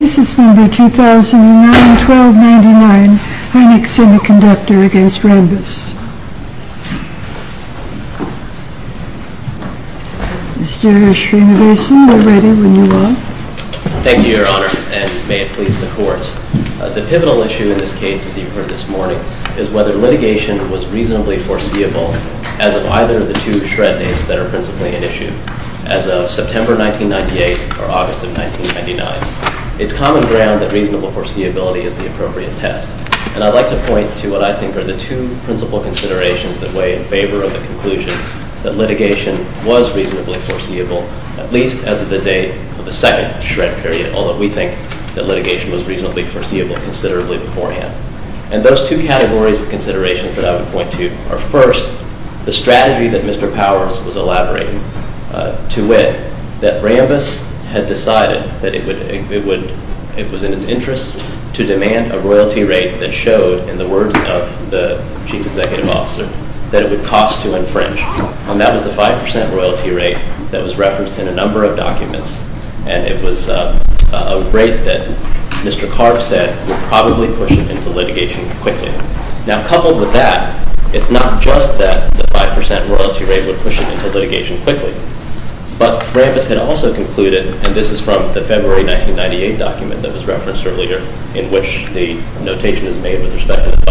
This is number 2009-1299, HYNIX SEMICONDUCTOR v. RAMBUS. Mr. Srinivasan, we're ready when you are. Thank you, Your Honor, and may it please the Court. The pivotal issue in this case, as you've heard this morning, is whether litigation was reasonably foreseeable as of either of the two shred dates that are principally at issue. As of September 1998 or August of 1999, it's common ground that reasonable foreseeability is the appropriate test. And I'd like to point to what I think are the two principal considerations that weigh in favor of the conclusion that litigation was reasonably foreseeable, at least as of the date of the second shred period, although we think that litigation was reasonably foreseeable considerably beforehand. And those two categories of considerations that I would point to are, first, the strategy that Mr. Powers was elaborating, to wit, that Rambus had decided that it was in its interests to demand a royalty rate that showed, in the words of the Chief Executive Officer, that it would cost to infringe. And that was the 5% royalty rate that was referenced in a number of documents. And it was a rate that Mr. Carves said would probably push it into litigation quickly. Now, coupled with that, it's not just that the 5% royalty rate would push it into litigation quickly, but Rambus had also concluded, and this is from the February 1998 document that was referenced earlier, in which the notation is made with respect to the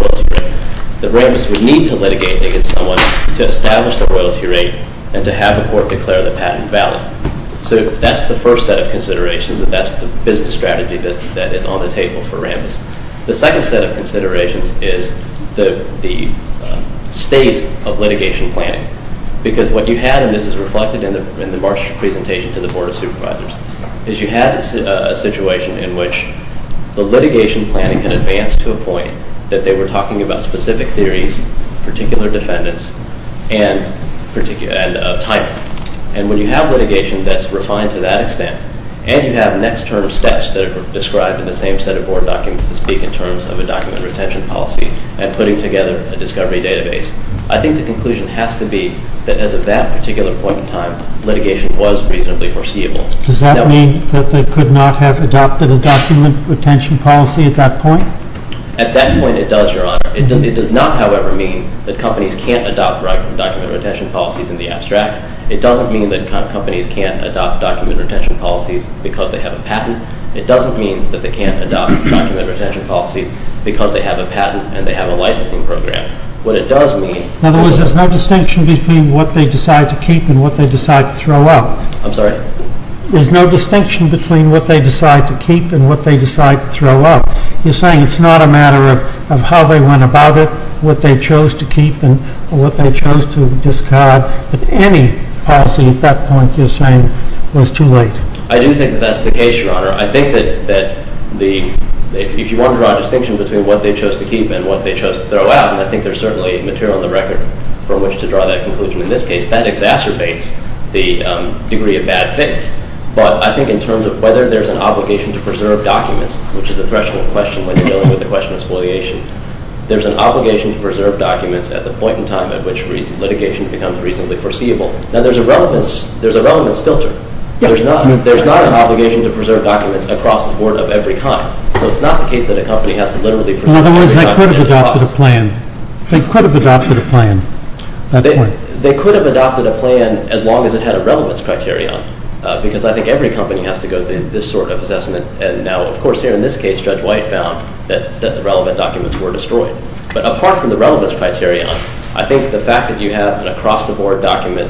5% royalty rate, that Rambus would need to litigate against someone to establish the royalty rate and to have a court declare the patent valid. So that's the first set of considerations, and that's the business strategy that is on the table for Rambus. The second set of considerations is the state of litigation planning. Because what you had, and this is reflected in the Marsh presentation to the Board of Supervisors, is you had a situation in which the litigation planning had advanced to a point that they were talking about specific theories, particular defendants, and a timer. And when you have litigation that's refined to that extent, and you have next term steps that are described in the same set of board documents to speak in terms of a document retention policy and putting together a discovery database, I think the conclusion has to be that as of that particular point in time, litigation was reasonably foreseeable. Does that mean that they could not have adopted a document retention policy at that point? At that point, it does, Your Honor. It does not, however, mean that companies can't adopt right from document retention policies in the abstract. It doesn't mean that companies can't adopt document retention policies because they have a patent. It doesn't mean that they can't adopt document retention policies because they have a patent and they have a licensing program. What it does mean is that there's no distinction between what they decide to keep and what they decide to throw out. I'm sorry? There's no distinction between what they decide to keep and what they decide to throw out. You're saying it's not a matter of how they went about it, what they chose to keep and what they chose to discard, but any policy at that point, you're saying, was too late. I do think that that's the case, Your Honor. I think that if you want to draw a distinction between what they chose to keep and what they chose to throw out, and I think there's certainly material on the record for which to draw that conclusion in this case, that exacerbates the degree of bad faith. But I think in terms of whether there's an obligation to preserve documents, which is a threshold question when you're dealing with the question of spoliation, there's an obligation to preserve documents at the point in time at which litigation becomes reasonably foreseeable. Now, there's a relevance filter. There's not an obligation to preserve documents across the board of every kind. So it's not the case that a company has to literally preserve every document. In other words, they could have adopted a plan. They could have adopted a plan. They could have adopted a plan as long as it had a relevance criterion, because I think every company has to go through this sort of assessment. And now, of course, here in this case, Judge White found that the relevant documents were destroyed. But apart from the relevance criterion, I think the fact that you have an across-the-board document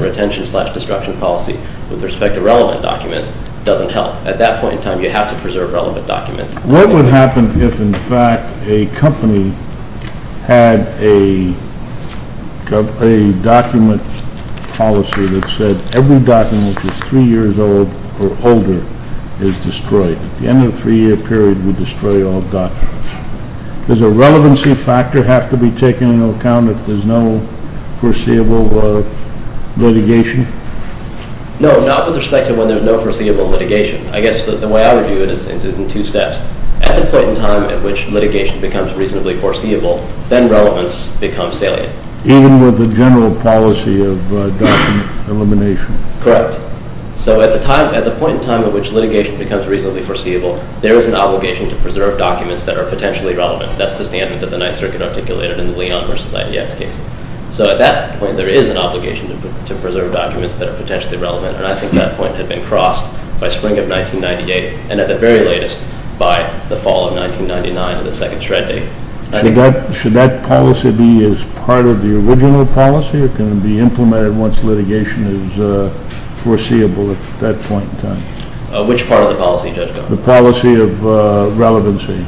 retention slash destruction policy with respect to relevant documents doesn't help. At that point in time, you have to preserve relevant documents. What would happen if, in fact, a company had a document policy that said, every document which is three years old or older is destroyed? At the end of a three-year period, we destroy all documents. Does a relevancy factor have to be taken into account if there's no foreseeable litigation? No, not with respect to when there's no foreseeable litigation. I guess the way I would view it is in two steps. At the point in time at which litigation becomes reasonably foreseeable, then relevance becomes salient. Even with the general policy of document elimination? Correct. So at the point in time at which litigation becomes reasonably foreseeable, there is an obligation to preserve documents that are potentially relevant. That's the standard that the Ninth Circuit articulated in the Leon versus IDX case. So at that point, there is an obligation to preserve documents that are potentially relevant. And I think that point had been crossed by spring of 1998 and at the very latest by the fall of 1999 with the second shred day. Should that policy be as part of the original policy or can it be implemented once litigation is foreseeable at that point in time? Which part of the policy, Judge Goldman? The policy of relevancy.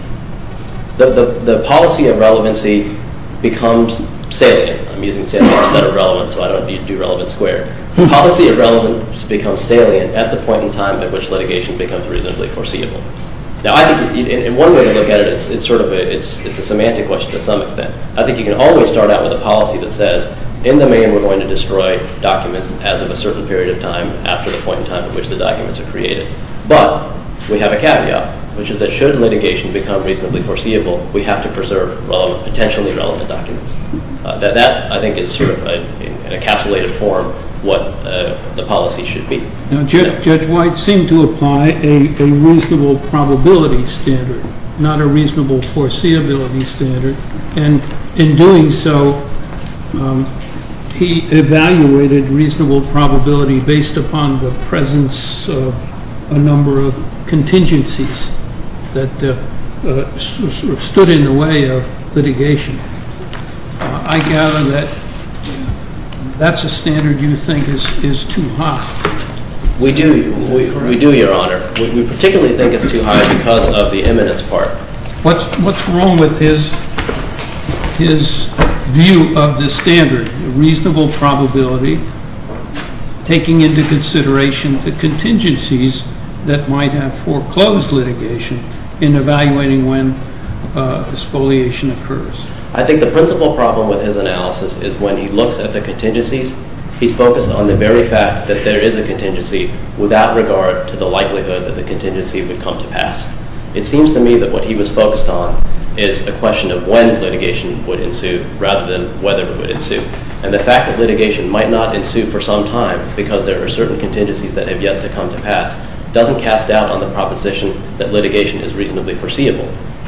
The policy of relevancy becomes salient. I'm using salient instead of relevant, so I don't need to do relevant squared. The policy of relevance becomes salient at the point in time at which litigation becomes reasonably foreseeable. Now, I think one way to look at it, it's a semantic question to some extent. I think you can always start out with a policy that says, in the main, we're going to destroy documents as of a certain period of time after the point in time at which the documents are created. But we have a caveat, which is that should litigation become reasonably foreseeable, we have to preserve potentially relevant documents. That, I think, is an encapsulated form what the policy should be. Now, Judge White seemed to apply a reasonable probability standard, not a reasonable foreseeability standard. And in doing so, he evaluated reasonable probability based upon the presence of a number of contingencies that stood in the way of litigation. I gather that that's a standard you think is too high. We do, Your Honor. We particularly think it's too high because of the imminence part. What's wrong with his view of the standard, reasonable probability, taking into consideration the contingencies that might have foreclosed litigation in evaluating when expoliation occurs? I think the principal problem with his analysis is when he looks at the contingencies, he's focused on the very fact that there is a contingency without regard to the likelihood that the contingency would come to pass. It seems to me that what he was focused on is a question of when litigation would ensue rather than whether it would ensue. And the fact that litigation might not ensue for some time because there are certain contingencies that have yet to come to pass doesn't cast doubt on the proposition that litigation is reasonably foreseeable.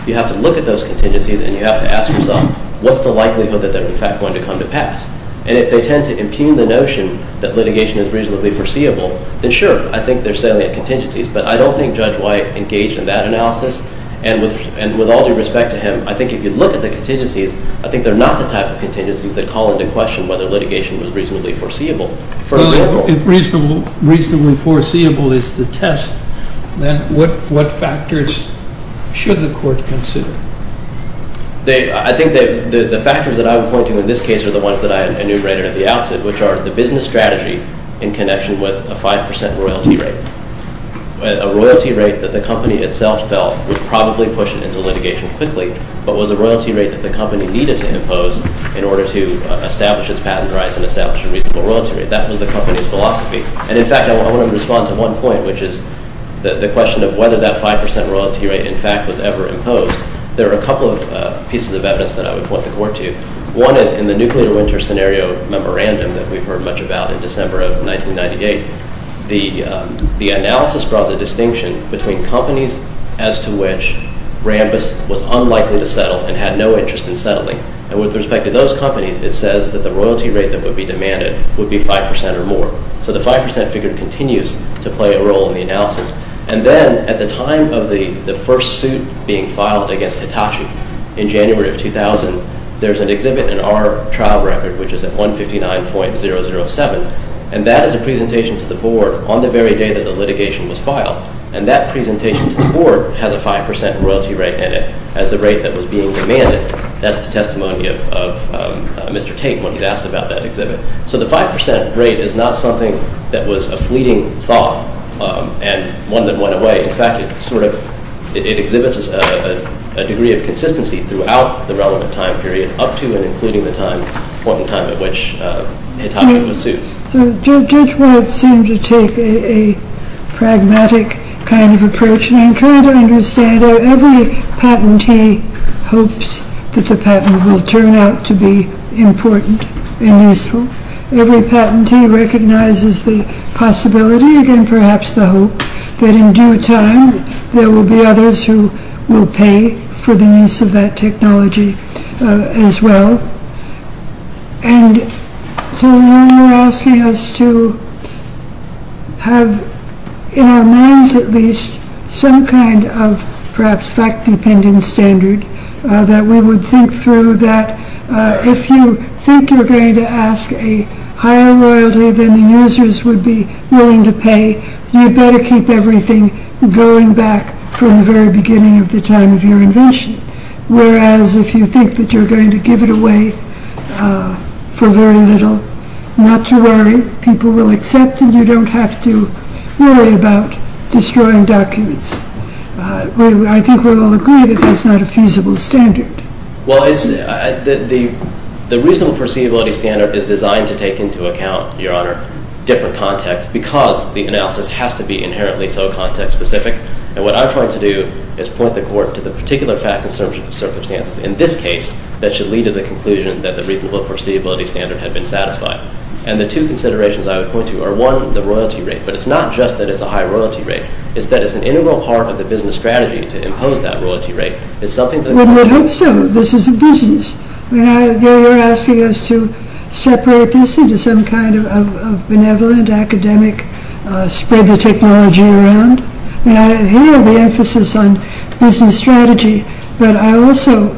You have to look at those contingencies and you have to ask yourself, what's the likelihood that they're in fact going to come to pass? And if they tend to impugn the notion that litigation is reasonably foreseeable, then sure, I think they're salient contingencies. But I don't think Judge White engaged in that analysis. And with all due respect to him, I think if you look at the contingencies, I think they're not the type of contingencies that call into question whether litigation was reasonably foreseeable. If reasonably foreseeable is the test, then what factors should the court consider? I think that the factors that I'm pointing to in this case are the ones that I enumerated at the outset, which are the business strategy in connection with a 5% royalty rate, a royalty rate that the company itself felt would probably push it into litigation quickly, but was a royalty rate that the company needed to impose in order to establish its patent rights and establish a reasonable royalty rate. That was the company's philosophy. And in fact, I want to respond to one point, which is the question of whether that 5% royalty rate in fact was ever imposed. There are a couple of pieces of evidence that I would point the court to. One is in the Nuclear Winter Scenario Memorandum that we've heard much about in December of 1998. The analysis draws a distinction between companies as to which Rambus was unlikely to settle and had no interest in settling. And with respect to those companies, it says that the royalty rate that would be demanded would be 5% or more. So the 5% figure continues to play a role in the analysis. And then at the time of the first suit being filed against Hitachi in January of 2000, there's an exhibit in our trial record, which is at 159.007. And that is a presentation to the board on the very day that the litigation was filed. And that presentation to the board has a 5% royalty rate in it as the rate that was being demanded. That's the testimony of Mr. Tate when he's asked about that exhibit. So the 5% rate is not something that was a fleeting thought and one that went away. In fact, it exhibits a degree of consistency throughout the relevant time period, up to and including the time, the point in time at which Hitachi was sued. So Judge Wood seemed to take a pragmatic kind of approach. I'm trying to understand how every patentee hopes that the patent will turn out to be important and useful. Every patentee recognizes the possibility and perhaps the hope that in due time, there will be others who will pay for the use of that technology as well. And so you're asking us to have in our minds at least some kind of, perhaps, fact-dependent standard that we would think through that if you think you're going to ask a higher royalty than the users would be willing to pay, you'd better keep everything going back from the very beginning of the time of your invention. Whereas if you think that you're going to give it away for very little, not to worry. People will accept it. And you don't have to worry about destroying documents. I think we'll all agree that that's not a feasible standard. Well, the reasonable foreseeability standard is designed to take into account, Your Honor, different contexts, because the analysis has to be inherently so context-specific. And what I'm trying to do is point the court to the particular facts and circumstances in this case that should lead to the conclusion that the reasonable foreseeability standard had been satisfied. And the two considerations I would point to are, one, the royalty rate. But it's not just that it's a high royalty rate. It's that it's an integral part of the business strategy to impose that royalty rate. It's something that we would hope so. This is a business. I mean, you're asking us to separate this into some kind of benevolent, academic, spread the technology around. And I hear the emphasis on business strategy. But I also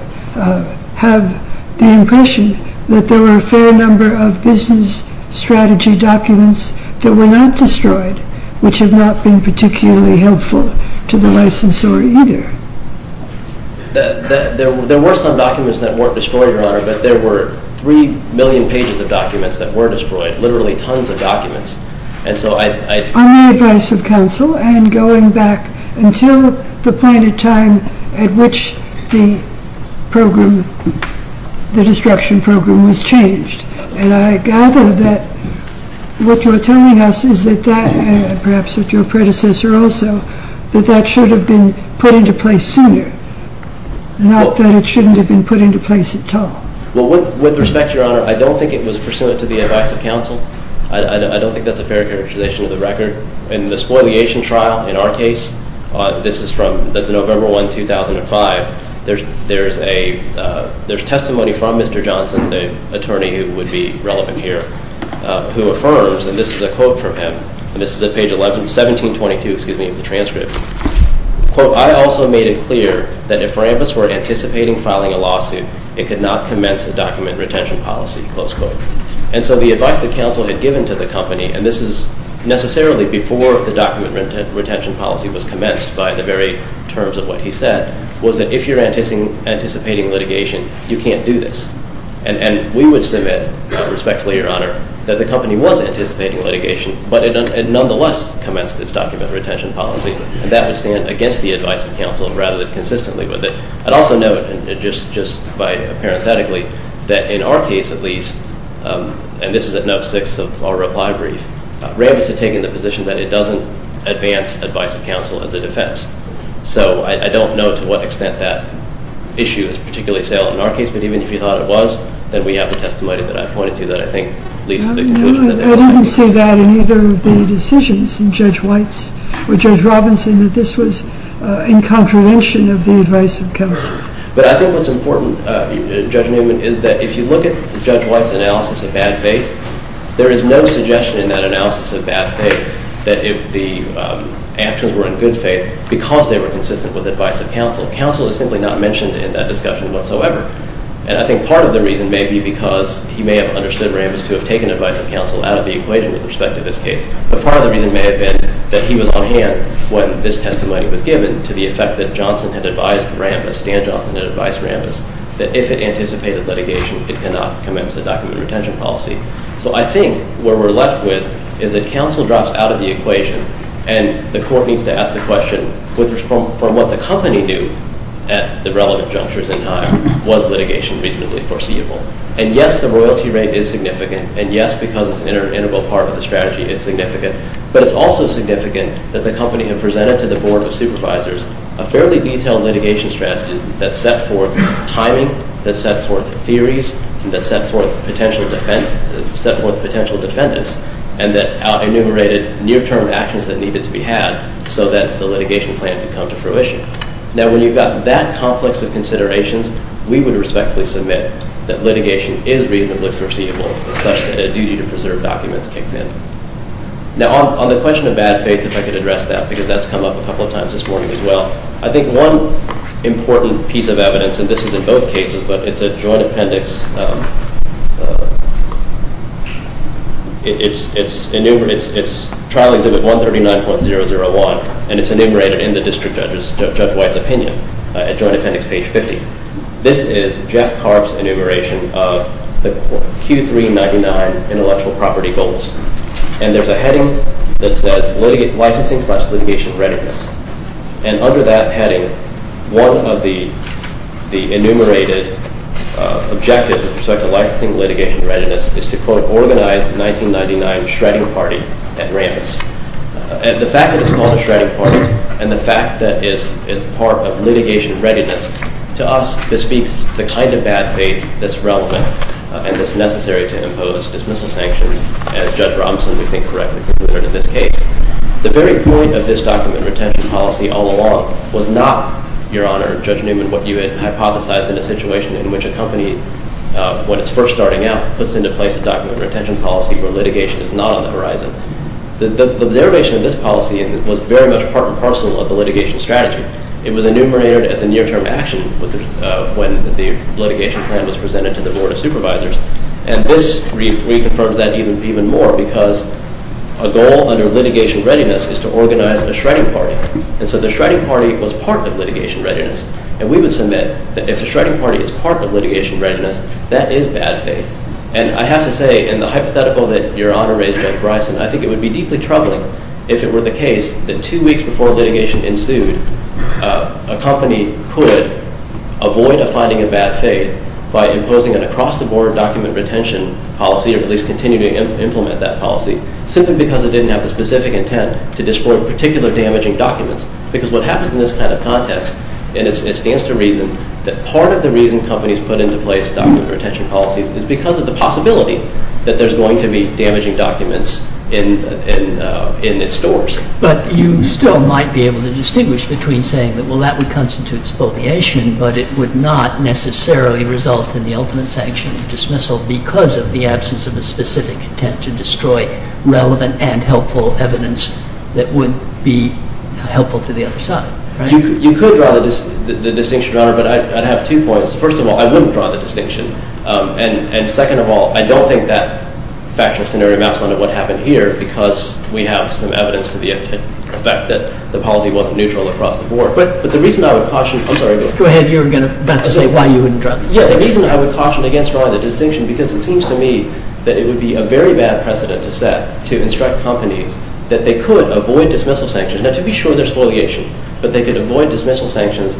have the impression that there are a fair number of business strategy documents that were not destroyed, which have not been particularly helpful to the licensor either. There were some documents that weren't destroyed, Your Honor. But there were 3 million pages of documents that were destroyed, literally tons of documents. And so I'd On the advice of counsel and going back until the point in time at which the program, the destruction program, was changed. And I gather that what you're telling us is that that, perhaps with your predecessor also, that that should have been put into place sooner, not that it shouldn't have been put into place at all. Well, with respect, Your Honor, I don't think it was pursuant to the advice of counsel. I don't think that's a fair characterization of the record. In the spoliation trial, in our case, this is from November 1, 2005, there's testimony from Mr. Johnson, the attorney who would be relevant here, who affirms, and this is a quote from him, and this is at page 11, 1722, excuse me, of the transcript. Quote, I also made it clear that if Rambis were anticipating filing a lawsuit, it could not commence a document retention policy, close quote. And so the advice that counsel had given to the company, and this is necessarily before the document retention policy was commenced by the very terms of what he said, was that if you're anticipating litigation, you can't do this. And we would submit, respectfully, Your Honor, that the company was anticipating litigation, but it nonetheless commenced its document retention policy. And that would stand against the advice of counsel, rather than consistently with it. I'd also note, and just parenthetically, that in our case, at least, and this is at note six of our reply brief, Rambis had taken the position that it doesn't advance advice of counsel as a defense. So I don't know to what extent that issue is particularly salient in our case. But even if you thought it was, then we have the testimony that I pointed to that, I think, leads to the conclusion that they're not making the decision. I didn't see that in either of the decisions in Judge White's or Judge Robinson, that this was in contravention of the advice of counsel. But I think what's important, Judge Newman, is that if you look at Judge White's analysis of bad faith, there is no suggestion in that analysis of bad faith that the actions were in good faith because they were consistent with advice of counsel. Counsel is simply not mentioned in that discussion whatsoever. And I think part of the reason may be because he may have understood Rambis to have taken advice of counsel out of the equation with respect to this case. But part of the reason may have been that he was on hand when this testimony was given to the effect that Johnson had advised Rambis, Dan Johnson had advised Rambis, that if it anticipated litigation, it cannot commence a document retention policy. So I think where we're left with is that counsel drops out of the equation, and the court needs to ask the question, from what the company knew at the relevant junctures in time, was litigation reasonably foreseeable? And yes, the royalty rate is significant. And yes, because it's an integral part of the strategy, it's significant. But it's also significant that the company had presented to the Board of Supervisors a fairly detailed litigation strategy that set forth timing, that set forth theories, that set forth potential defendants, and that enumerated near-term actions that needed to be had so that the litigation plan could come to fruition. Now, when you've got that complex of considerations, we would respectfully submit that litigation is reasonably foreseeable, such that a duty to preserve documents kicks in. Now, on the question of bad faith, if I could address that, because that's come up a couple of times this morning as well. I think one important piece of evidence, and this is in both cases, but it's a joint appendix. It's trial exhibit 139.001, and it's enumerated in the district judge's, Judge White's opinion at joint appendix page 50. This is Jeff Carb's enumeration of the Q399 intellectual property goals. And there's a heading that says, licensing slash litigation readiness. And under that heading, one of the enumerated objectives with respect to licensing litigation readiness is to quote, organize 1999 shredding party at Rambis. And the fact that it's called a shredding party, and the fact that it's part of litigation readiness, to us, this speaks the kind of bad faith that's relevant and that's necessary to impose dismissal sanctions, as Judge Romson, we think, correctly concluded in this case. The very point of this document retention policy all along was not, Your Honor, Judge Newman, what you had hypothesized in a situation in which a company, when it's first starting out, puts into place a document retention policy where litigation is not on the horizon. The derivation of this policy was very much part and parcel of the litigation strategy. It was enumerated as a near-term action when the litigation plan was presented to the Board of Supervisors. And this reconfirms that even more, because a goal under litigation readiness is to organize a shredding party. And so the shredding party was part of litigation readiness. And we would submit that if the shredding party is part of litigation readiness, that is bad faith. And I have to say, in the hypothetical that Your Honor raised, Judge Bryson, I think it would be deeply troubling if it were the case that two weeks before litigation ensued, a company could avoid a finding of bad faith by imposing an across-the-board document retention policy, or at least continue to implement that policy, simply because it didn't have the specific intent to disprove particular damaging documents. Because what happens in this kind of context, and it stands to reason that part of the reason companies put into place document retention policies is because of the possibility that there's going to be damaging documents in its stores. But you still might be able to distinguish between saying that, well, that would constitute spoliation, but it would not necessarily result in the ultimate sanction of dismissal because of the absence of a specific intent to destroy relevant and helpful evidence that would be helpful to the other side. You could draw the distinction, Your Honor, but I'd have two points. First of all, I wouldn't draw the distinction. And second of all, I don't think that factual scenario maps onto what happened here, because we have some evidence to the effect that the policy wasn't neutral across the board. But the reason I would caution, I'm sorry. Go ahead. You were about to say why you wouldn't draw the distinction. Yeah, the reason I would caution against drawing the distinction, because it seems to me that it would be a very bad precedent to set to instruct companies that they could avoid dismissal sanctions. Now, to be sure, they're spoliation. But they could avoid dismissal sanctions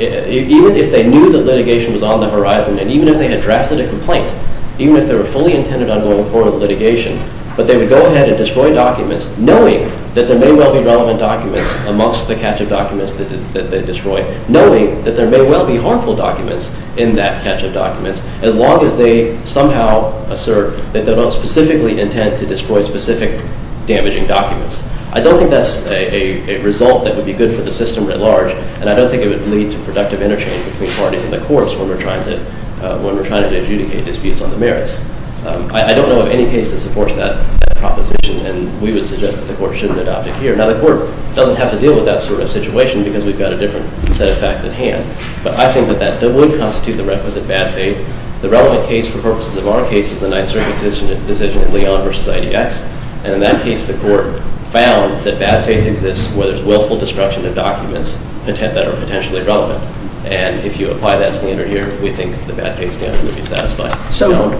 even if they knew the litigation was on the horizon, and even if they had drafted a complaint, even if they were fully intended on going forward with litigation. But they would go ahead and destroy documents, knowing that there may well be relevant documents amongst the catch-up documents that they destroy, knowing that there may well be harmful documents in that catch-up documents, as long as they somehow assert that they don't specifically intend to destroy specific damaging documents. I don't think that's a result that would be good for the system at large. And I don't think it would lead to productive interchange between parties in the courts when we're trying to adjudicate disputes on the merits. I don't know of any case that supports that proposition. And we would suggest that the court shouldn't adopt it here. Now, the court doesn't have to deal with that sort of situation, because we've got a different set of facts at hand. But I think that that would constitute the requisite bad faith. The relevant case, for purposes of our case, is the Ninth Circuit decision in Leon v. IDX. And in that case, the court found that bad faith exists where there's willful destruction of documents that are potentially relevant. And if you apply that standard here, we think the bad faith standard would be satisfying. So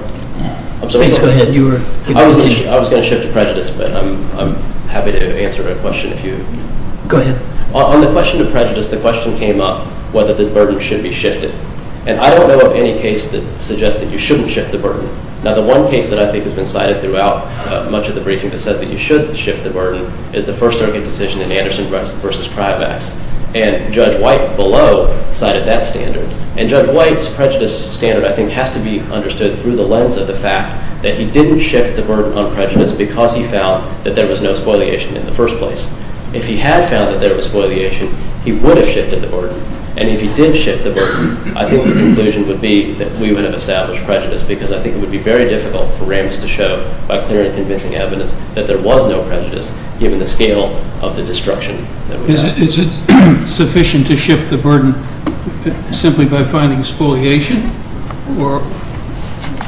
please go ahead. You were giving a presentation. I was going to shift to prejudice, but I'm happy to answer a question if you. Go ahead. On the question of prejudice, the question came up whether the burden should be shifted. And I don't know of any case that suggests that you shouldn't shift the burden. Now, the one case that I think has been cited throughout much of the briefing that says that you should shift the burden is the First Circuit decision in Anderson v. Privax. And Judge White, below, cited that standard. And Judge White's prejudice standard, I think, has to be understood through the lens of the fact that he didn't shift the burden on prejudice because he found that there was no spoliation in the first place. If he had found that there was spoliation, he would have shifted the burden. And if he did shift the burden, I think the conclusion would be that we would have established prejudice because I think it would be very difficult for Ramis to show, by clear and convincing evidence, that there was no prejudice, given the scale of the destruction that we had. Is it sufficient to shift the burden simply by finding spoliation? Or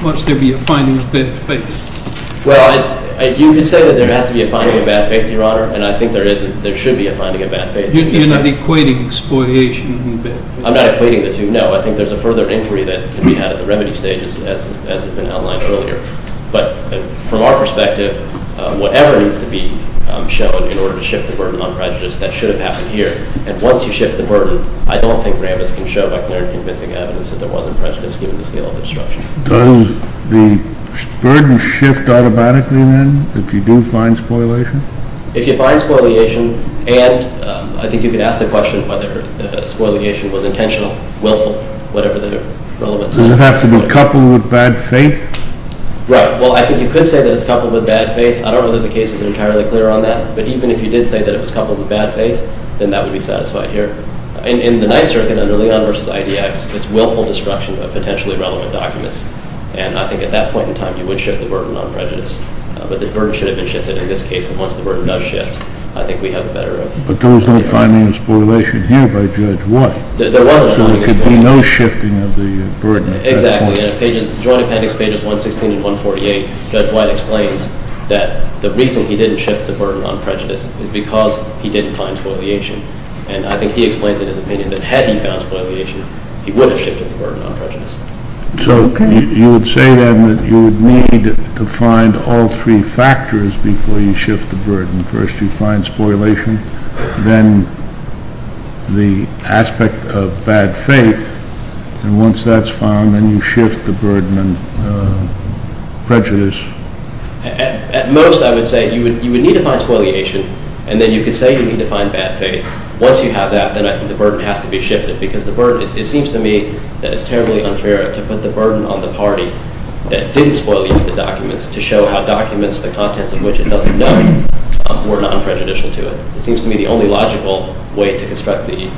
must there be a finding of bad faith? Well, you could say that there has to be a finding of bad faith, Your Honor. And I think there is and there should be a finding of bad faith. You're not equating spoliation and bad faith. I'm not equating the two, no. I think there's a further inquiry that can be had at the remedy stage, as has been outlined earlier. But from our perspective, whatever needs to be shown in order to shift the burden on prejudice, that should have happened here. And once you shift the burden, I don't think Ramis can show by clear and convincing evidence that there wasn't prejudice, given the scale of the destruction. Does the burden shift automatically, then, if you do find spoliation? If you find spoliation, and I think you could ask the question whether the spoliation was intentional, willful, whatever the relevance of that. Does it have to be coupled with bad faith? Right. Well, I think you could say that it's coupled with bad faith. I don't know that the case is entirely clear on that. But even if you did say that it was coupled with bad faith, then that would be satisfied here. In the Ninth Circuit, under Leon v. IDX, it's willful destruction of potentially relevant documents. And I think at that point in time, you would shift the burden on prejudice. But the burden should have been shifted, in this case, and once the burden does shift, I think we have the better of. But there was no finding of spoliation here by Judge White. There wasn't a finding of spoliation. So there could be no shifting of the burden at that point. Exactly. And in Joint Appendix pages 116 and 148, Judge White explains that the reason he didn't shift the burden on prejudice is because he didn't find spoliation. And I think he explains in his opinion that had he found spoliation, he would have shifted the burden on prejudice. So you would say, then, that you would need to find all three factors before you shift the burden. First, you find spoliation, then the aspect of bad faith, and once that's found, then you shift the burden on prejudice. At most, I would say you would need to find spoliation, and then you could say you need to find bad faith. Once you have that, then I think the burden has to be shifted, because the burden, it seems to me that it's terribly unfair to put the burden on the party that didn't spoliate the documents to show how documents, the contents of which it doesn't know, were non-prejudicial to it. It seems to me the only logical way to construct the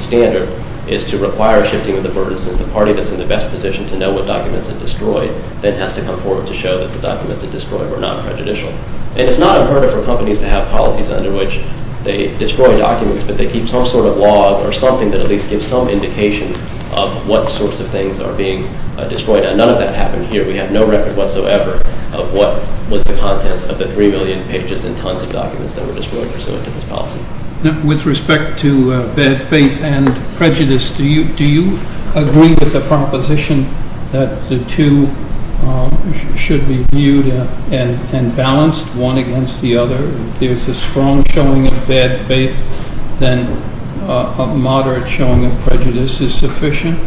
standard is to require shifting of the burden, since the party that's in the best position to know what documents it destroyed then has to come forward to show that the documents it destroyed were non-prejudicial. And it's not unheard of for companies to have policies under which they destroy documents, but they keep some sort of log or something that at least gives some indication of what sorts of things are being destroyed. And none of that happened here. We have no record whatsoever of what was the contents of the 3 million pages and tons of documents that were destroyed pursuant to this policy. With respect to bad faith and prejudice, do you agree with the proposition that the two should be viewed and balanced, one against the other? If there's a strong showing of bad faith, then a moderate showing of prejudice is sufficient?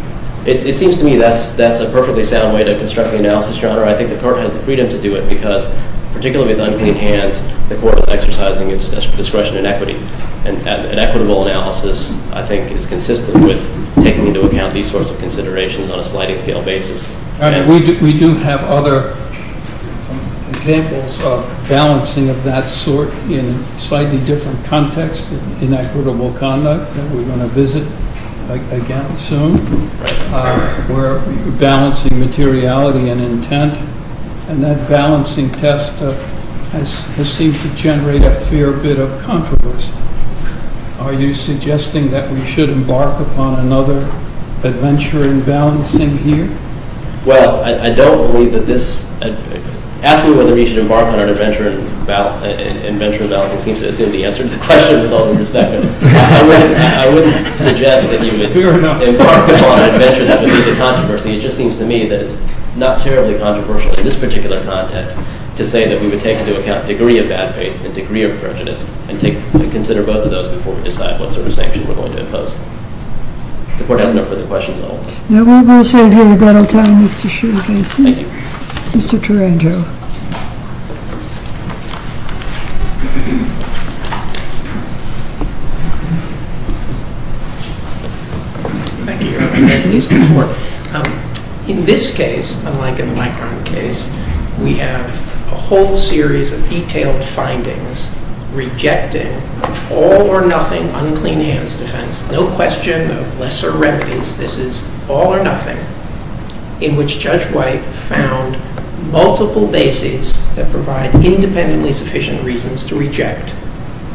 It seems to me that's a perfectly sound way to construct the analysis, Your Honor. I think the court has the freedom to do it, because particularly with unclean hands, the court is exercising its discretion and equity. And equitable analysis, I think, is consistent with taking into account these sorts of considerations on a sliding scale basis. We do have other examples of balancing of that sort in slightly different contexts in equitable conduct that we're going to visit again soon, where balancing materiality and intent. And that balancing test has seemed to generate a fair bit of controversy. Are you suggesting that we should embark upon another adventure in balancing here? Well, I don't believe that this asking whether we should embark on an adventure in balancing seems to assume the answer. The question, with all due respect, I wouldn't suggest that you would embark upon an adventure that would lead to controversy. It just seems to me that it's not terribly controversial in this particular context to say that we would take into account degree of bad faith and degree of prejudice and consider both of those before we decide what sort of sanction we're going to impose. The court has no further questions at all. Now, we will save you a little time, Mr. Shulkinson. Thank you. Mr. Tarangio. Thank you, Your Honor. Excuse me, Your Honor. In this case, unlike in the Micron case, we have a whole series of detailed findings rejecting all or nothing unclean hands defense, no question of lesser remedies. This is all or nothing, in which Judge White found multiple bases that provide independently sufficient reasons to reject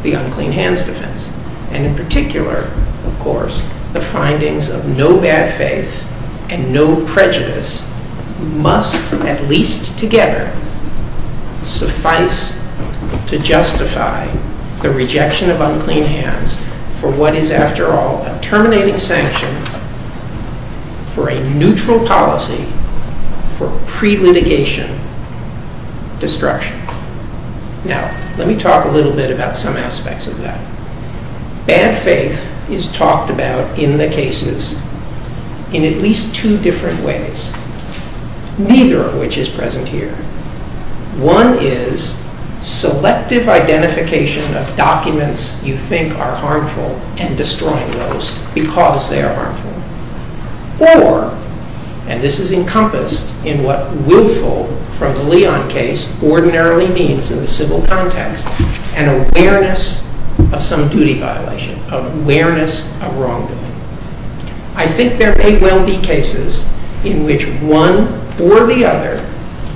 the unclean hands defense. And in particular, of course, the findings of no bad faith and no prejudice must, at least together, suffice to justify the rejection of unclean hands for what is, after all, a terminating sanction for a neutral policy for pre-litigation destruction. Now, let me talk a little bit about some aspects of that. Bad faith is talked about in the cases in at least two different ways, neither of which is present here. One is selective identification of documents you think are harmful and destroying those because they are harmful. Or, and this is encompassed in what rarely means in the civil context, an awareness of some duty violation, of awareness of wrongdoing. I think there may well be cases in which one or the other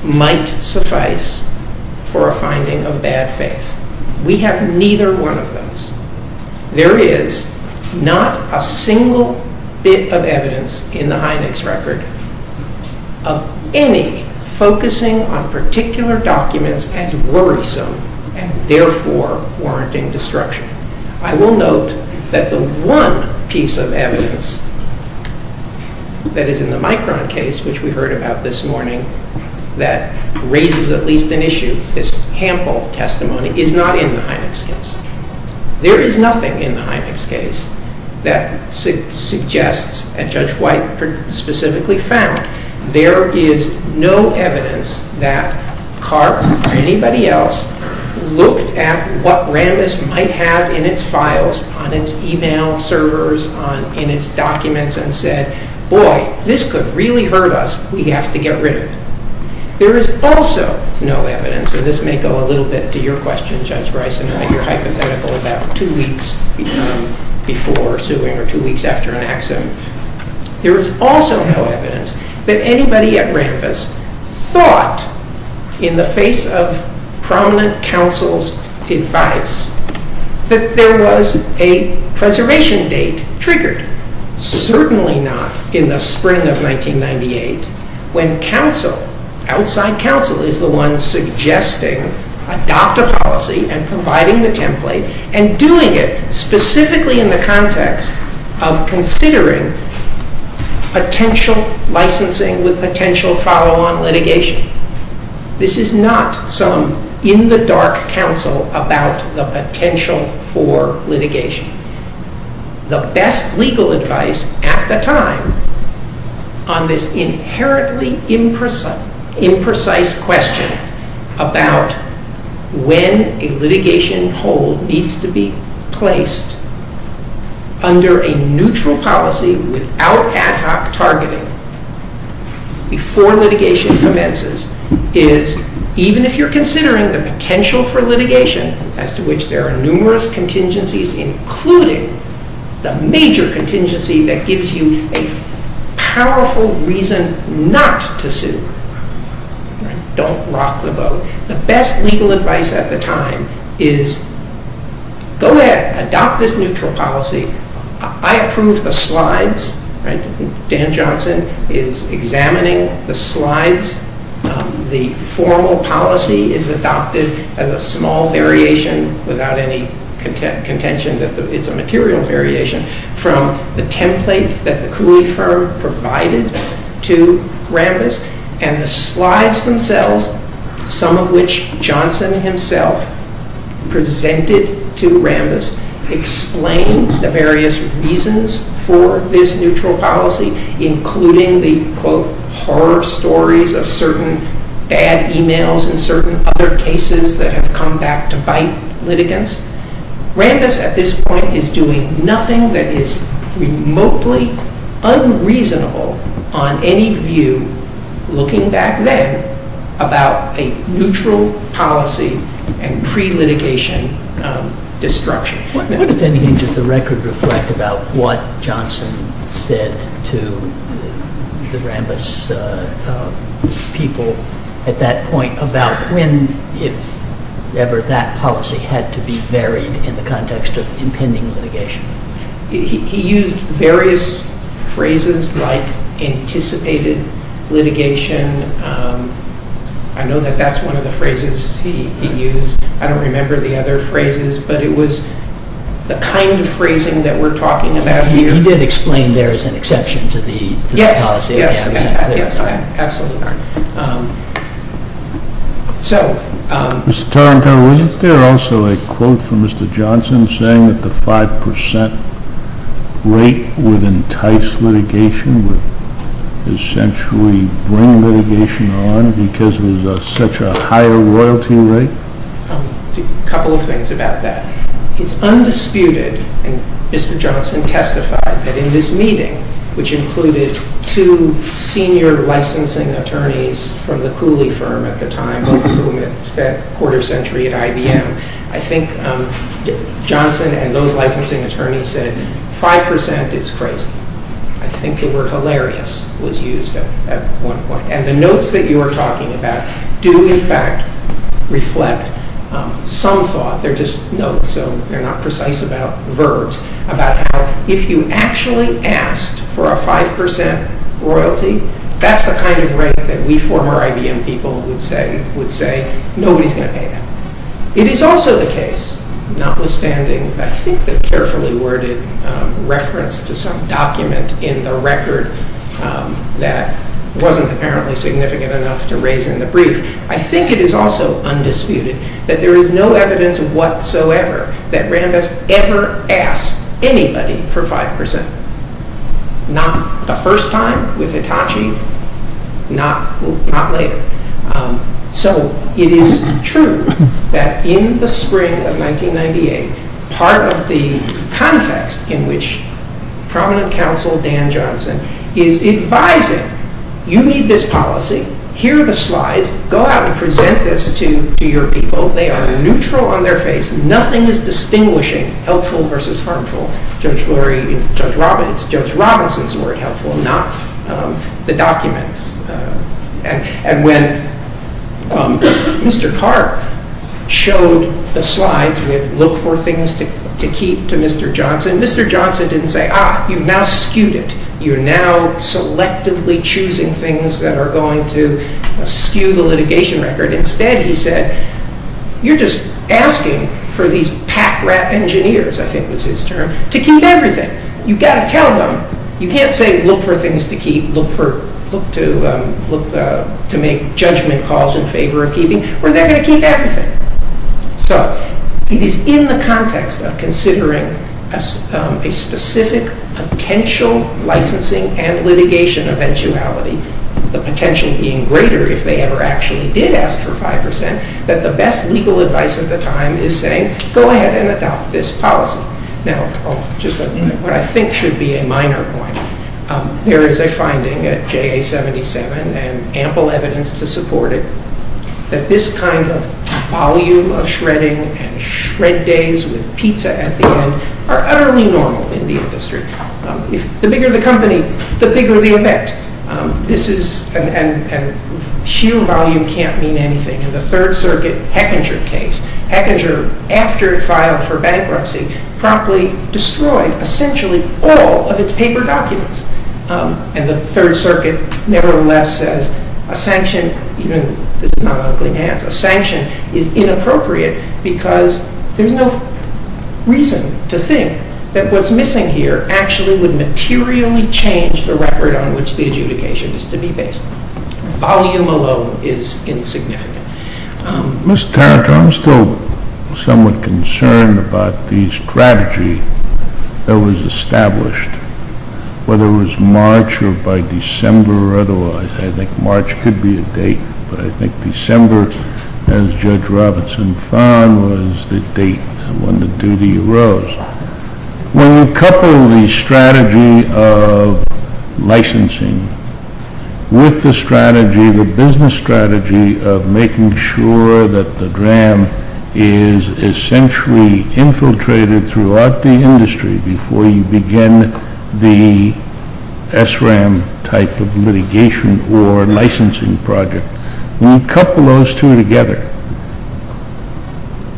might suffice for a finding of bad faith. We have neither one of those. There is not a single bit of evidence in the Heineck's record of any focusing on particular documents as worrisome and therefore warranting destruction. I will note that the one piece of evidence that is in the Micron case, which we heard about this morning, that raises at least an issue, this hample testimony, is not in the Heineck's case. There is nothing in the Heineck's case that suggests, and Judge White specifically found, there is no evidence that Karp or anybody else looked at what Rambis might have in its files, on its email servers, in its documents, and said, boy, this could really hurt us. We have to get rid of it. There is also no evidence, and this may go a little bit to your question, Judge Rice, in that you're hypothetical about two weeks before suing or two weeks after an accident. There is also no evidence that anybody at Rambis thought, in the face of prominent counsel's advice, that there was a preservation date triggered. Certainly not in the spring of 1998, when counsel, outside counsel, is the one suggesting adopt a policy and providing the template and doing it specifically in the context of considering potential licensing with potential follow-on litigation. This is not some in-the-dark counsel about the potential for litigation. The best legal advice at the time on this inherently imprecise question about when a litigation hold needs to be placed under a neutral policy without ad hoc targeting before litigation commences is, even if you're considering the potential for litigation, as to which there are numerous contingencies, including the major contingency that gives you a powerful reason not to sue. Don't rock the boat. The best legal advice at the time is, go ahead, adopt this neutral policy. I approve the slides. Dan Johnson is examining the slides. The formal policy is adopted as a small variation without any contention that it's a material variation from the template that the Cooley firm provided to Rambis. And the slides themselves, some of which Johnson himself presented to Rambis, explain the various reasons for this neutral policy, including the, quote, horror stories of certain bad emails and certain other cases that have come back to bite litigants. Rambis, at this point, is doing nothing that is remotely unreasonable on any view, looking back then, about a neutral policy and pre-litigation destruction. What, if anything, does the record reflect about what Johnson said to the Rambis people at that point about when, if ever, that policy had to be varied in the context of impending litigation? He used various phrases like anticipated litigation. I know that that's one of the phrases he used. I don't remember the other phrases. But it was the kind of phrasing that we're talking about here. He did explain there is an exception to the policy. Yes. Yes. Absolutely. Mr. Tarantello, is there also a quote from Mr. Johnson saying that the 5% rate would entice litigation, would essentially bring litigation on, because it was such a higher royalty rate? A couple of things about that. It's undisputed, and Mr. Johnson testified that in this meeting, which included two senior licensing attorneys from the Cooley firm at the time, both of whom had spent a quarter century at IBM, I think Johnson and those licensing attorneys said, 5% is crazy. I think the word hilarious was used at one point. And the notes that you are talking about do, in fact, reflect some thought. They're just notes, so they're not precise about verbs, about how if you actually asked for a 5% royalty, that's the kind of rate that we former IBM people would say, nobody's going to pay that. It is also the case, notwithstanding, I think, the carefully worded reference to some document in the record that wasn't apparently significant enough to raise in the brief, I think it is also undisputed that there is no evidence whatsoever that Rand has ever asked anybody for 5%. Not the first time with Hitachi, not later. So it is true that in the spring of 1998, part of the context in which prominent counsel Dan Johnson is advising, you need this policy, here are the slides, go out and present this to your people, they are neutral on their face, nothing is distinguishing helpful versus harmful. Judge Robinson's word helpful, not the documents. And when Mr. Carr showed the slides with look for things to keep to Mr. Johnson, Mr. Johnson didn't say, ah, you've now skewed it. You're now selectively choosing things that are going to skew the litigation record. Instead he said, you're just asking for these pack rat engineers, I think was his term, to keep everything. You've got to tell them. You can't say look for things to keep, look to make judgment calls in favor of keeping, or they're going to keep everything. So it is in the context of considering a specific potential licensing and litigation eventuality, the potential being greater if they ever actually did ask for 5%, that the best legal advice at the time is saying, go ahead and adopt this policy. Now, just what I think should be a minor point. There is a finding at JA 77, and ample evidence to support it, that this kind of volume of shredding and shred days with pizza at the end are utterly normal in the industry. The bigger the company, the bigger the effect. And sheer volume can't mean anything. In the Third Circuit, Hechinger case. Hechinger, after it filed for bankruptcy, promptly destroyed, essentially, all of its paper documents. And the Third Circuit, nevertheless, says a sanction, even this is not ugly man, a sanction is inappropriate because there's no reason to think that what's missing here actually would materially change the record on which the adjudication is to be based. Volume alone is insignificant. Mr. Taranto, I'm still somewhat concerned about the strategy that was established, whether it was March or by December or otherwise. I think March could be a date, but I think December, as Judge Robinson found, was the date when the duty arose. When you couple the strategy of licensing with the strategy, the business strategy, of making sure that the DRAM is essentially infiltrated throughout the industry before you begin the SRAM type of litigation or licensing project, when you couple those two together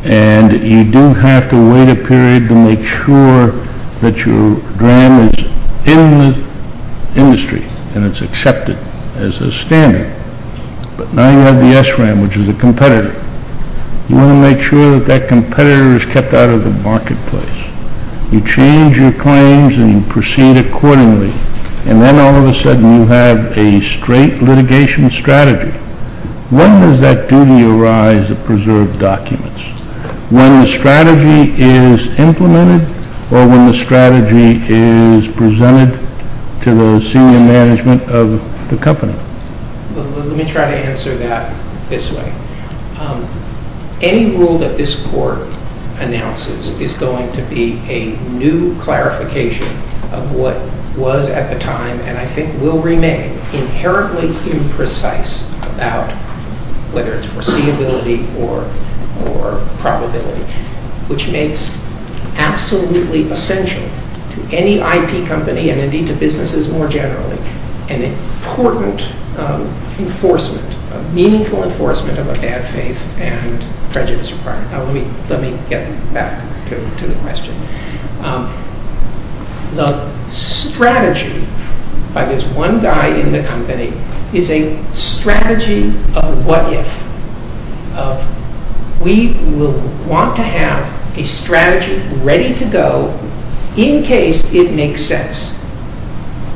and you do have to wait a period to make sure that your DRAM is in the industry and it's accepted as a standard, but now you have the SRAM, which is a competitor. You want to make sure that that competitor is kept out of the marketplace. You change your claims and you proceed accordingly, and then all of a sudden you have a straight litigation strategy. When does that duty arise to preserve documents? When the strategy is implemented or when the strategy is presented to the senior management of the company? Let me try to answer that this way. Any rule that this Court announces is going to be a new clarification of what was at the time and I think will remain inherently imprecise about whether it's foreseeability or probability, which makes absolutely essential to any IP company and indeed to businesses more generally an important enforcement, a meaningful enforcement of a bad faith and prejudice requirement. Let me get back to the question. The strategy by this one guy in the company is a strategy of what if. We will want to have a strategy ready to go in case it makes sense.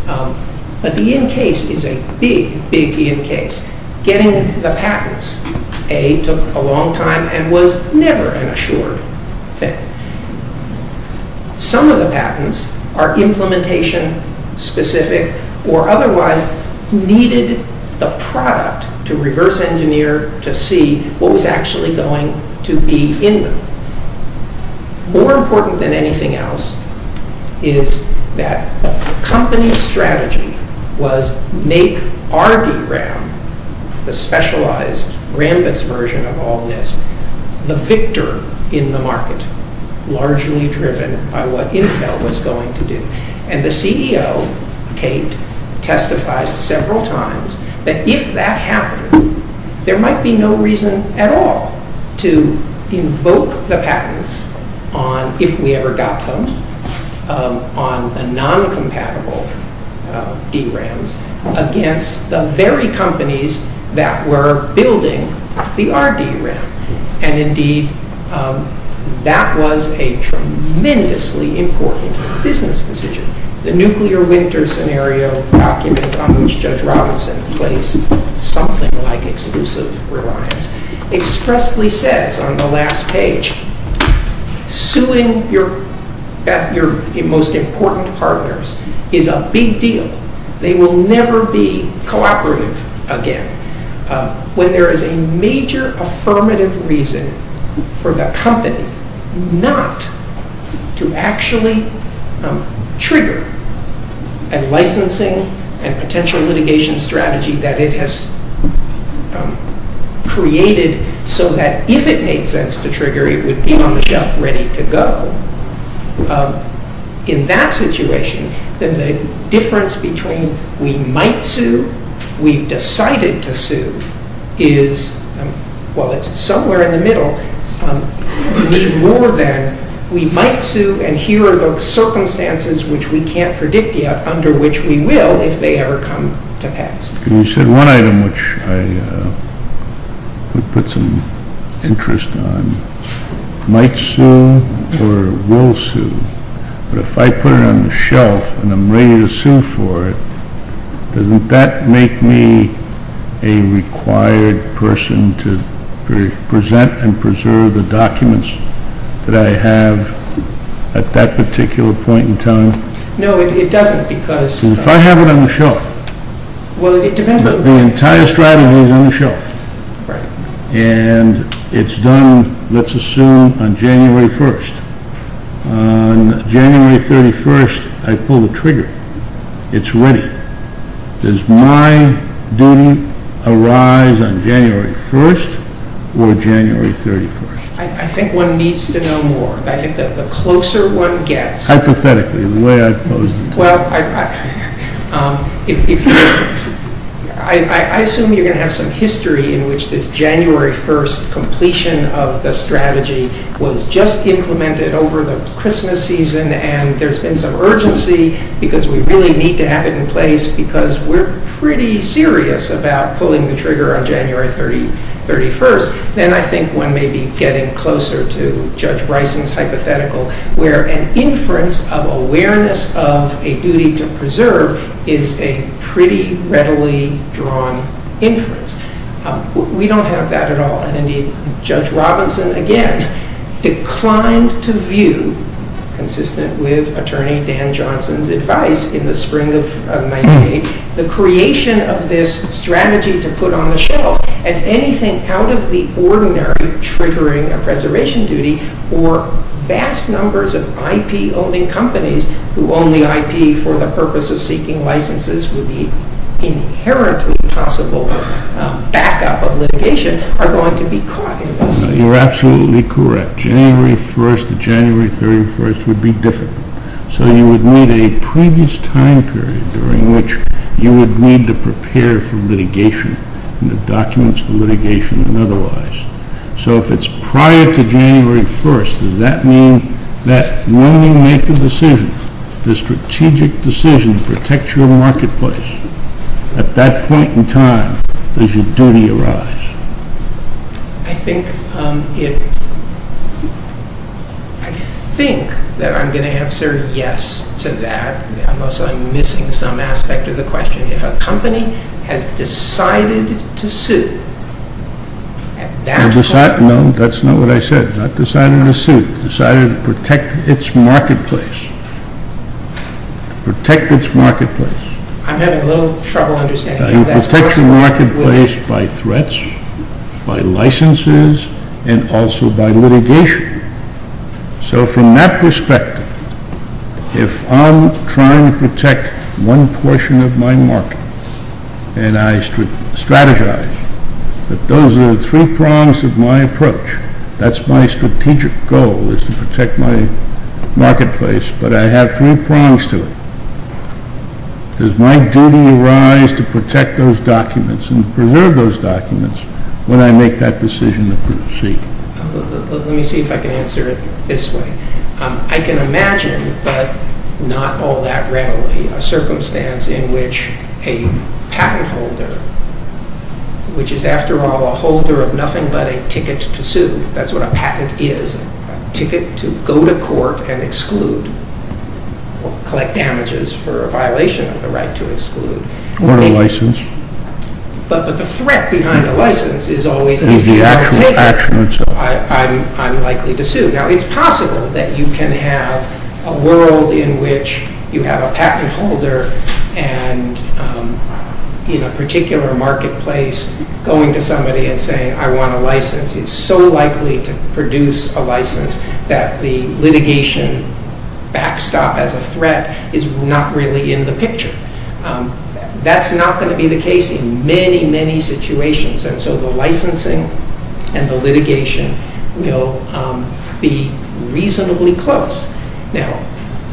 But the in case is a big, big in case. Getting the patents, A, took a long time and was never an assured thing. Some of the patents are implementation specific or otherwise needed the product to reverse engineer to see what was actually going to be in them. More important than anything else is that the company's strategy was make RDRAM, the specialized Rambus version of all this, the victor in the market, largely driven by what Intel was going to do. And the CEO, Tate, testified several times that if that happened, there might be no reason at all to invoke the patents on if we ever got them, on the non-compatible DRAMs against the very companies that were building the RDRAM. And indeed, that was a tremendously important business decision. The nuclear winter scenario document on which Judge Robinson placed something like exclusive reliance expressly says on the last page, suing your most important partners is a big deal. They will never be cooperative again. When there is a major affirmative reason for the company not to actually trigger a licensing and potential litigation strategy that it has created so that if it made sense to trigger, it would be on the shelf ready to go. In that situation, then the difference between we might sue, we've decided to sue, is, well, it's somewhere in the middle, more than we might sue and here are those circumstances which we can't predict yet, under which we will, if they ever come to pass. You said one item, which I would put some interest on, might sue or will sue. But if I put it on the shelf and I'm ready to sue for it, doesn't that make me a required person to present and preserve the documents that I have at that particular point in time? No, it doesn't because... If I have it on the shelf, the entire strategy is on the shelf. Right. And it's done, let's assume, on January 1st. On January 31st, I pull the trigger. It's ready. Does my duty arise on January 1st or January 31st? I think one needs to know more. I think that the closer one gets... Hypothetically, the way I've posed it. Well, I assume you're going to have some history in which this January 1st completion of the strategy was just implemented over the Christmas season and there's been some urgency because we really need to have it in place because we're pretty serious about pulling the trigger on January 31st. Then I think one may be getting closer to Judge Bryson's hypothetical where an inference of awareness of a duty to preserve is a pretty readily drawn inference. We don't have that at all. And indeed, Judge Robinson, again, declined to view, consistent with Attorney Dan Johnson's advice in the spring of 1998, the creation of this strategy to put on the shelf as anything out of the ordinary triggering a preservation duty or vast numbers of IP-owning companies who only IP for the purpose of seeking licenses with the inherently possible backup of litigation are going to be caught in this. You're absolutely correct. January 1st to January 31st would be difficult. So you would need a previous time period during which you would need to prepare for litigation and the documents for litigation and otherwise. So if it's prior to January 1st, does that mean that when you make the decision, the strategic decision to protect your marketplace, at that point in time, does your duty arise? I think that I'm going to answer yes to that unless I'm missing some aspect of the question. If a company has decided to sue, No, that's not what I said. Not decided to sue. Decided to protect its marketplace. To protect its marketplace. I'm having a little trouble understanding that. It protects the marketplace by threats, by licenses, and also by litigation. So from that perspective, if I'm trying to protect one portion of my market and I strategize that those are the three prongs of my approach, that's my strategic goal is to protect my marketplace, but I have three prongs to it. Does my duty arise to protect those documents and preserve those documents when I make that decision to proceed? Let me see if I can answer it this way. I can imagine, but not all that readily, a circumstance in which a patent holder, which is after all a holder of nothing but a ticket to sue, that's what a patent is, a ticket to go to court and exclude, or collect damages for a violation of the right to exclude. Or a license. But the threat behind a license is always the fear of the taker. I'm likely to sue. Now it's possible that you can have a world in which you have a patent holder and in a particular marketplace, going to somebody and saying, I want a license is so likely to produce a license that the litigation backstop as a threat is not really in the picture. That's not going to be the case in many, many situations. And so the licensing and the litigation will be reasonably close. Now,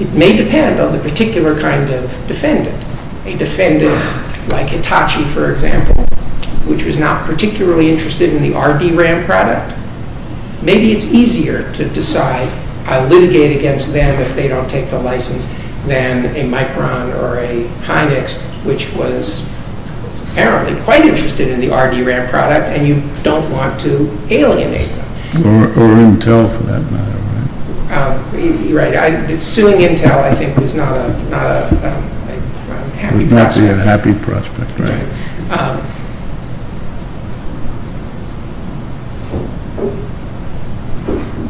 it may depend on the particular kind of defendant. A defendant like Hitachi, for example, which was not particularly interested in the RD-RAM product. Maybe it's easier to decide, I'll litigate against them if they don't take the license, than a Micron or a Hynix, which was apparently quite interested in the RD-RAM product and you don't want to alienate them. Or Intel for that matter, right? Right, suing Intel I think was not a happy prospect. Not really a happy prospect, right.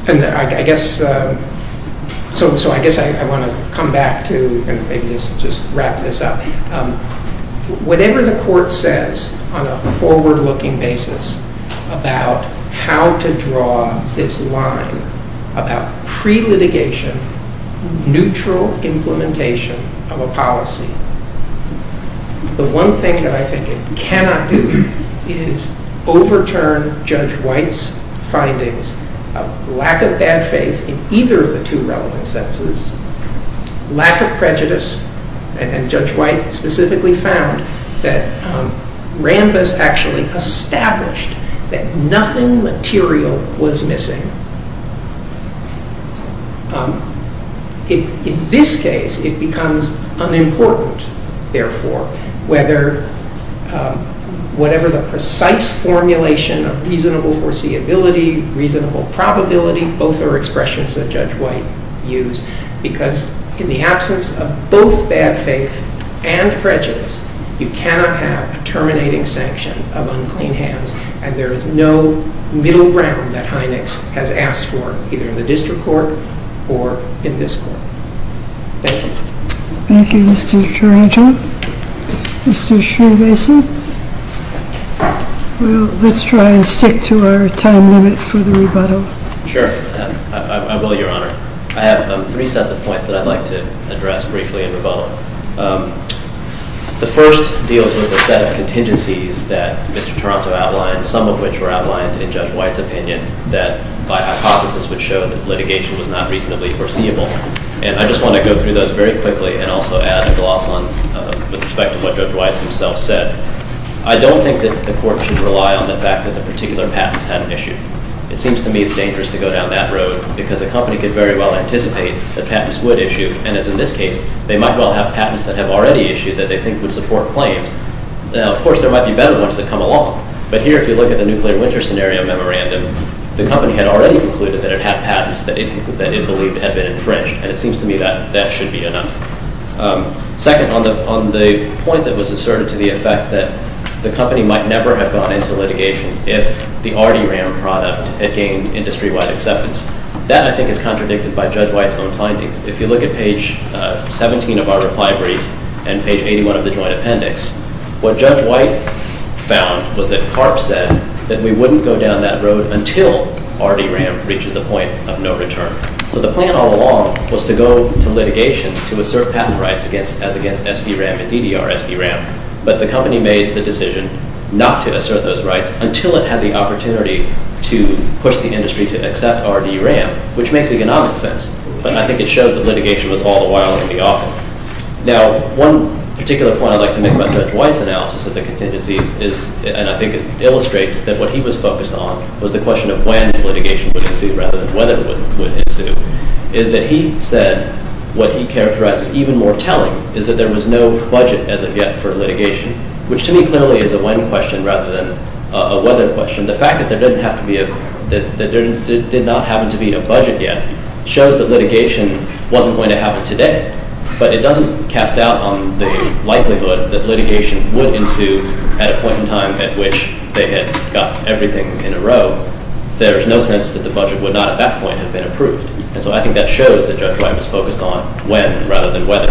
And I guess, so I guess I want to come back to and maybe just wrap this up. Whatever the court says on a forward-looking basis about how to draw this line about pre-litigation, neutral implementation of a policy, the one thing that I think it cannot do is overturn Judge White's findings of lack of bad faith in either of the two relevant sentences, lack of prejudice, and Judge White specifically found that Rambis actually established that nothing material was missing. In this case, it becomes unimportant, therefore, whether whatever the precise formulation of reasonable foreseeability, reasonable probability, both are expressions that Judge White used because in the absence of both bad faith and prejudice, you cannot have a terminating sanction of unclean hands and there is no middle ground that Hynix has asked for either in the district court or in this court. Thank you. Thank you, Mr. Taranto. Mr. Schneebasen. Well, let's try and stick to our time limit for the rebuttal. Sure, I will, Your Honor. I have three sets of points that I'd like to address briefly in rebuttal. The first deals with a set of contingencies that Mr. Taranto outlined, some of which were outlined in Judge White's opinion that by hypothesis would show that litigation was not reasonably foreseeable. And I just want to go through those very quickly and also add a gloss on the respect of what Judge White himself said. I don't think that the court should rely on the fact that the particular patents hadn't issued. It seems to me it's dangerous to go down that road because a company could very well anticipate that patents would issue, and as in this case, they might well have patents that have already issued that they think would support claims. Now, of course, there might be better ones that come along, but here if you look at the nuclear winter scenario memorandum, the company had already concluded that it had patents that it believed had been infringed, and it seems to me that that should be enough. Second, on the point that was asserted to the effect that the company might never have gone into litigation if the RD-RAM product had gained industry-wide acceptance, that I think is contradicted by Judge White's own findings. If you look at page 17 of our reply brief and page 81 of the joint appendix, what Judge White found was that Karp said that we wouldn't go down that road until RD-RAM reaches the point of no return. So the plan all along was to go to litigation to assert patent rights as against SD-RAM and DDR-SD-RAM, but the company made the decision not to assert those rights until it had the opportunity to push the industry to accept RD-RAM, which makes economic sense, but I think it shows that litigation was all the while going to be awful. Now, one particular point I'd like to make about Judge White's analysis of the contingencies is, and I think it illustrates that what he was focused on was the question of when litigation would ensue rather than whether it would ensue, is that he said what he characterized as even more telling is that there was no budget as of yet for litigation, which to me clearly is a when question rather than a whether question. The fact that there did not happen to be a budget yet shows that litigation wasn't going to happen today, but it doesn't cast doubt on the likelihood that litigation would ensue at a point in time at which they had got everything in a row. There's no sense that the budget would not at that point have been approved, and so I think that shows that Judge White was focused on when rather than whether.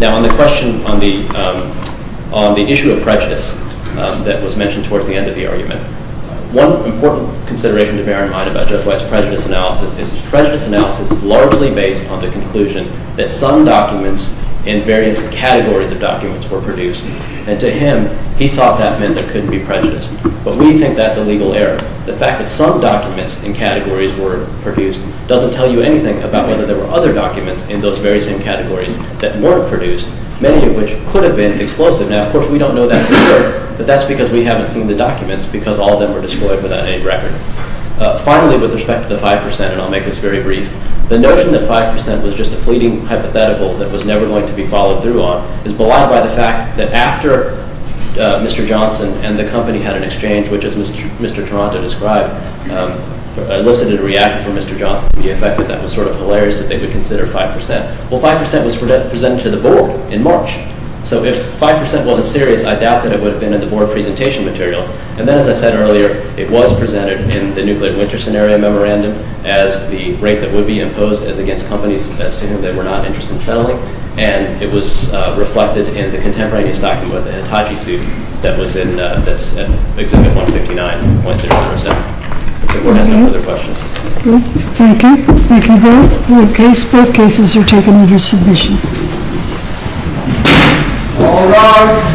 Now, on the issue of prejudice that was mentioned towards the end of the argument, one important consideration to bear in mind about Judge White's prejudice analysis is his prejudice analysis is largely based on the conclusion that some documents in various categories of documents were produced, and to him, he thought that meant there couldn't be prejudice, but we think that's a legal error. The fact that some documents in categories were produced doesn't tell you anything about whether there were other documents in those very same categories that weren't produced, many of which could have been explosive. Now, of course, we don't know that for sure, but that's because we haven't seen the documents because all of them were destroyed without any record. Finally, with respect to the 5%, and I'll make this very brief, the notion that 5% was just a fleeting hypothetical that was never going to be followed through on is belied by the fact that after Mr. Johnson and the company had an exchange, which, as Mr. Toronto described, elicited a reaction from Mr. Johnson to the effect that that was sort of hilarious that they would consider 5%. Well, 5% was presented to the Board in March, so if 5% wasn't serious, I doubt that it would have been in the Board presentation materials, and then, as I said earlier, it was presented in the Nuclear Winter Scenario Memorandum as the rate that would be imposed as against companies as to whom they were not interested in selling, and it was reflected in the contemporaneous document, the Hitachi suit, that was in Exhibit 159.037. If the Board has no further questions. Thank you. Thank you both. Both cases are taken under submission. All rise.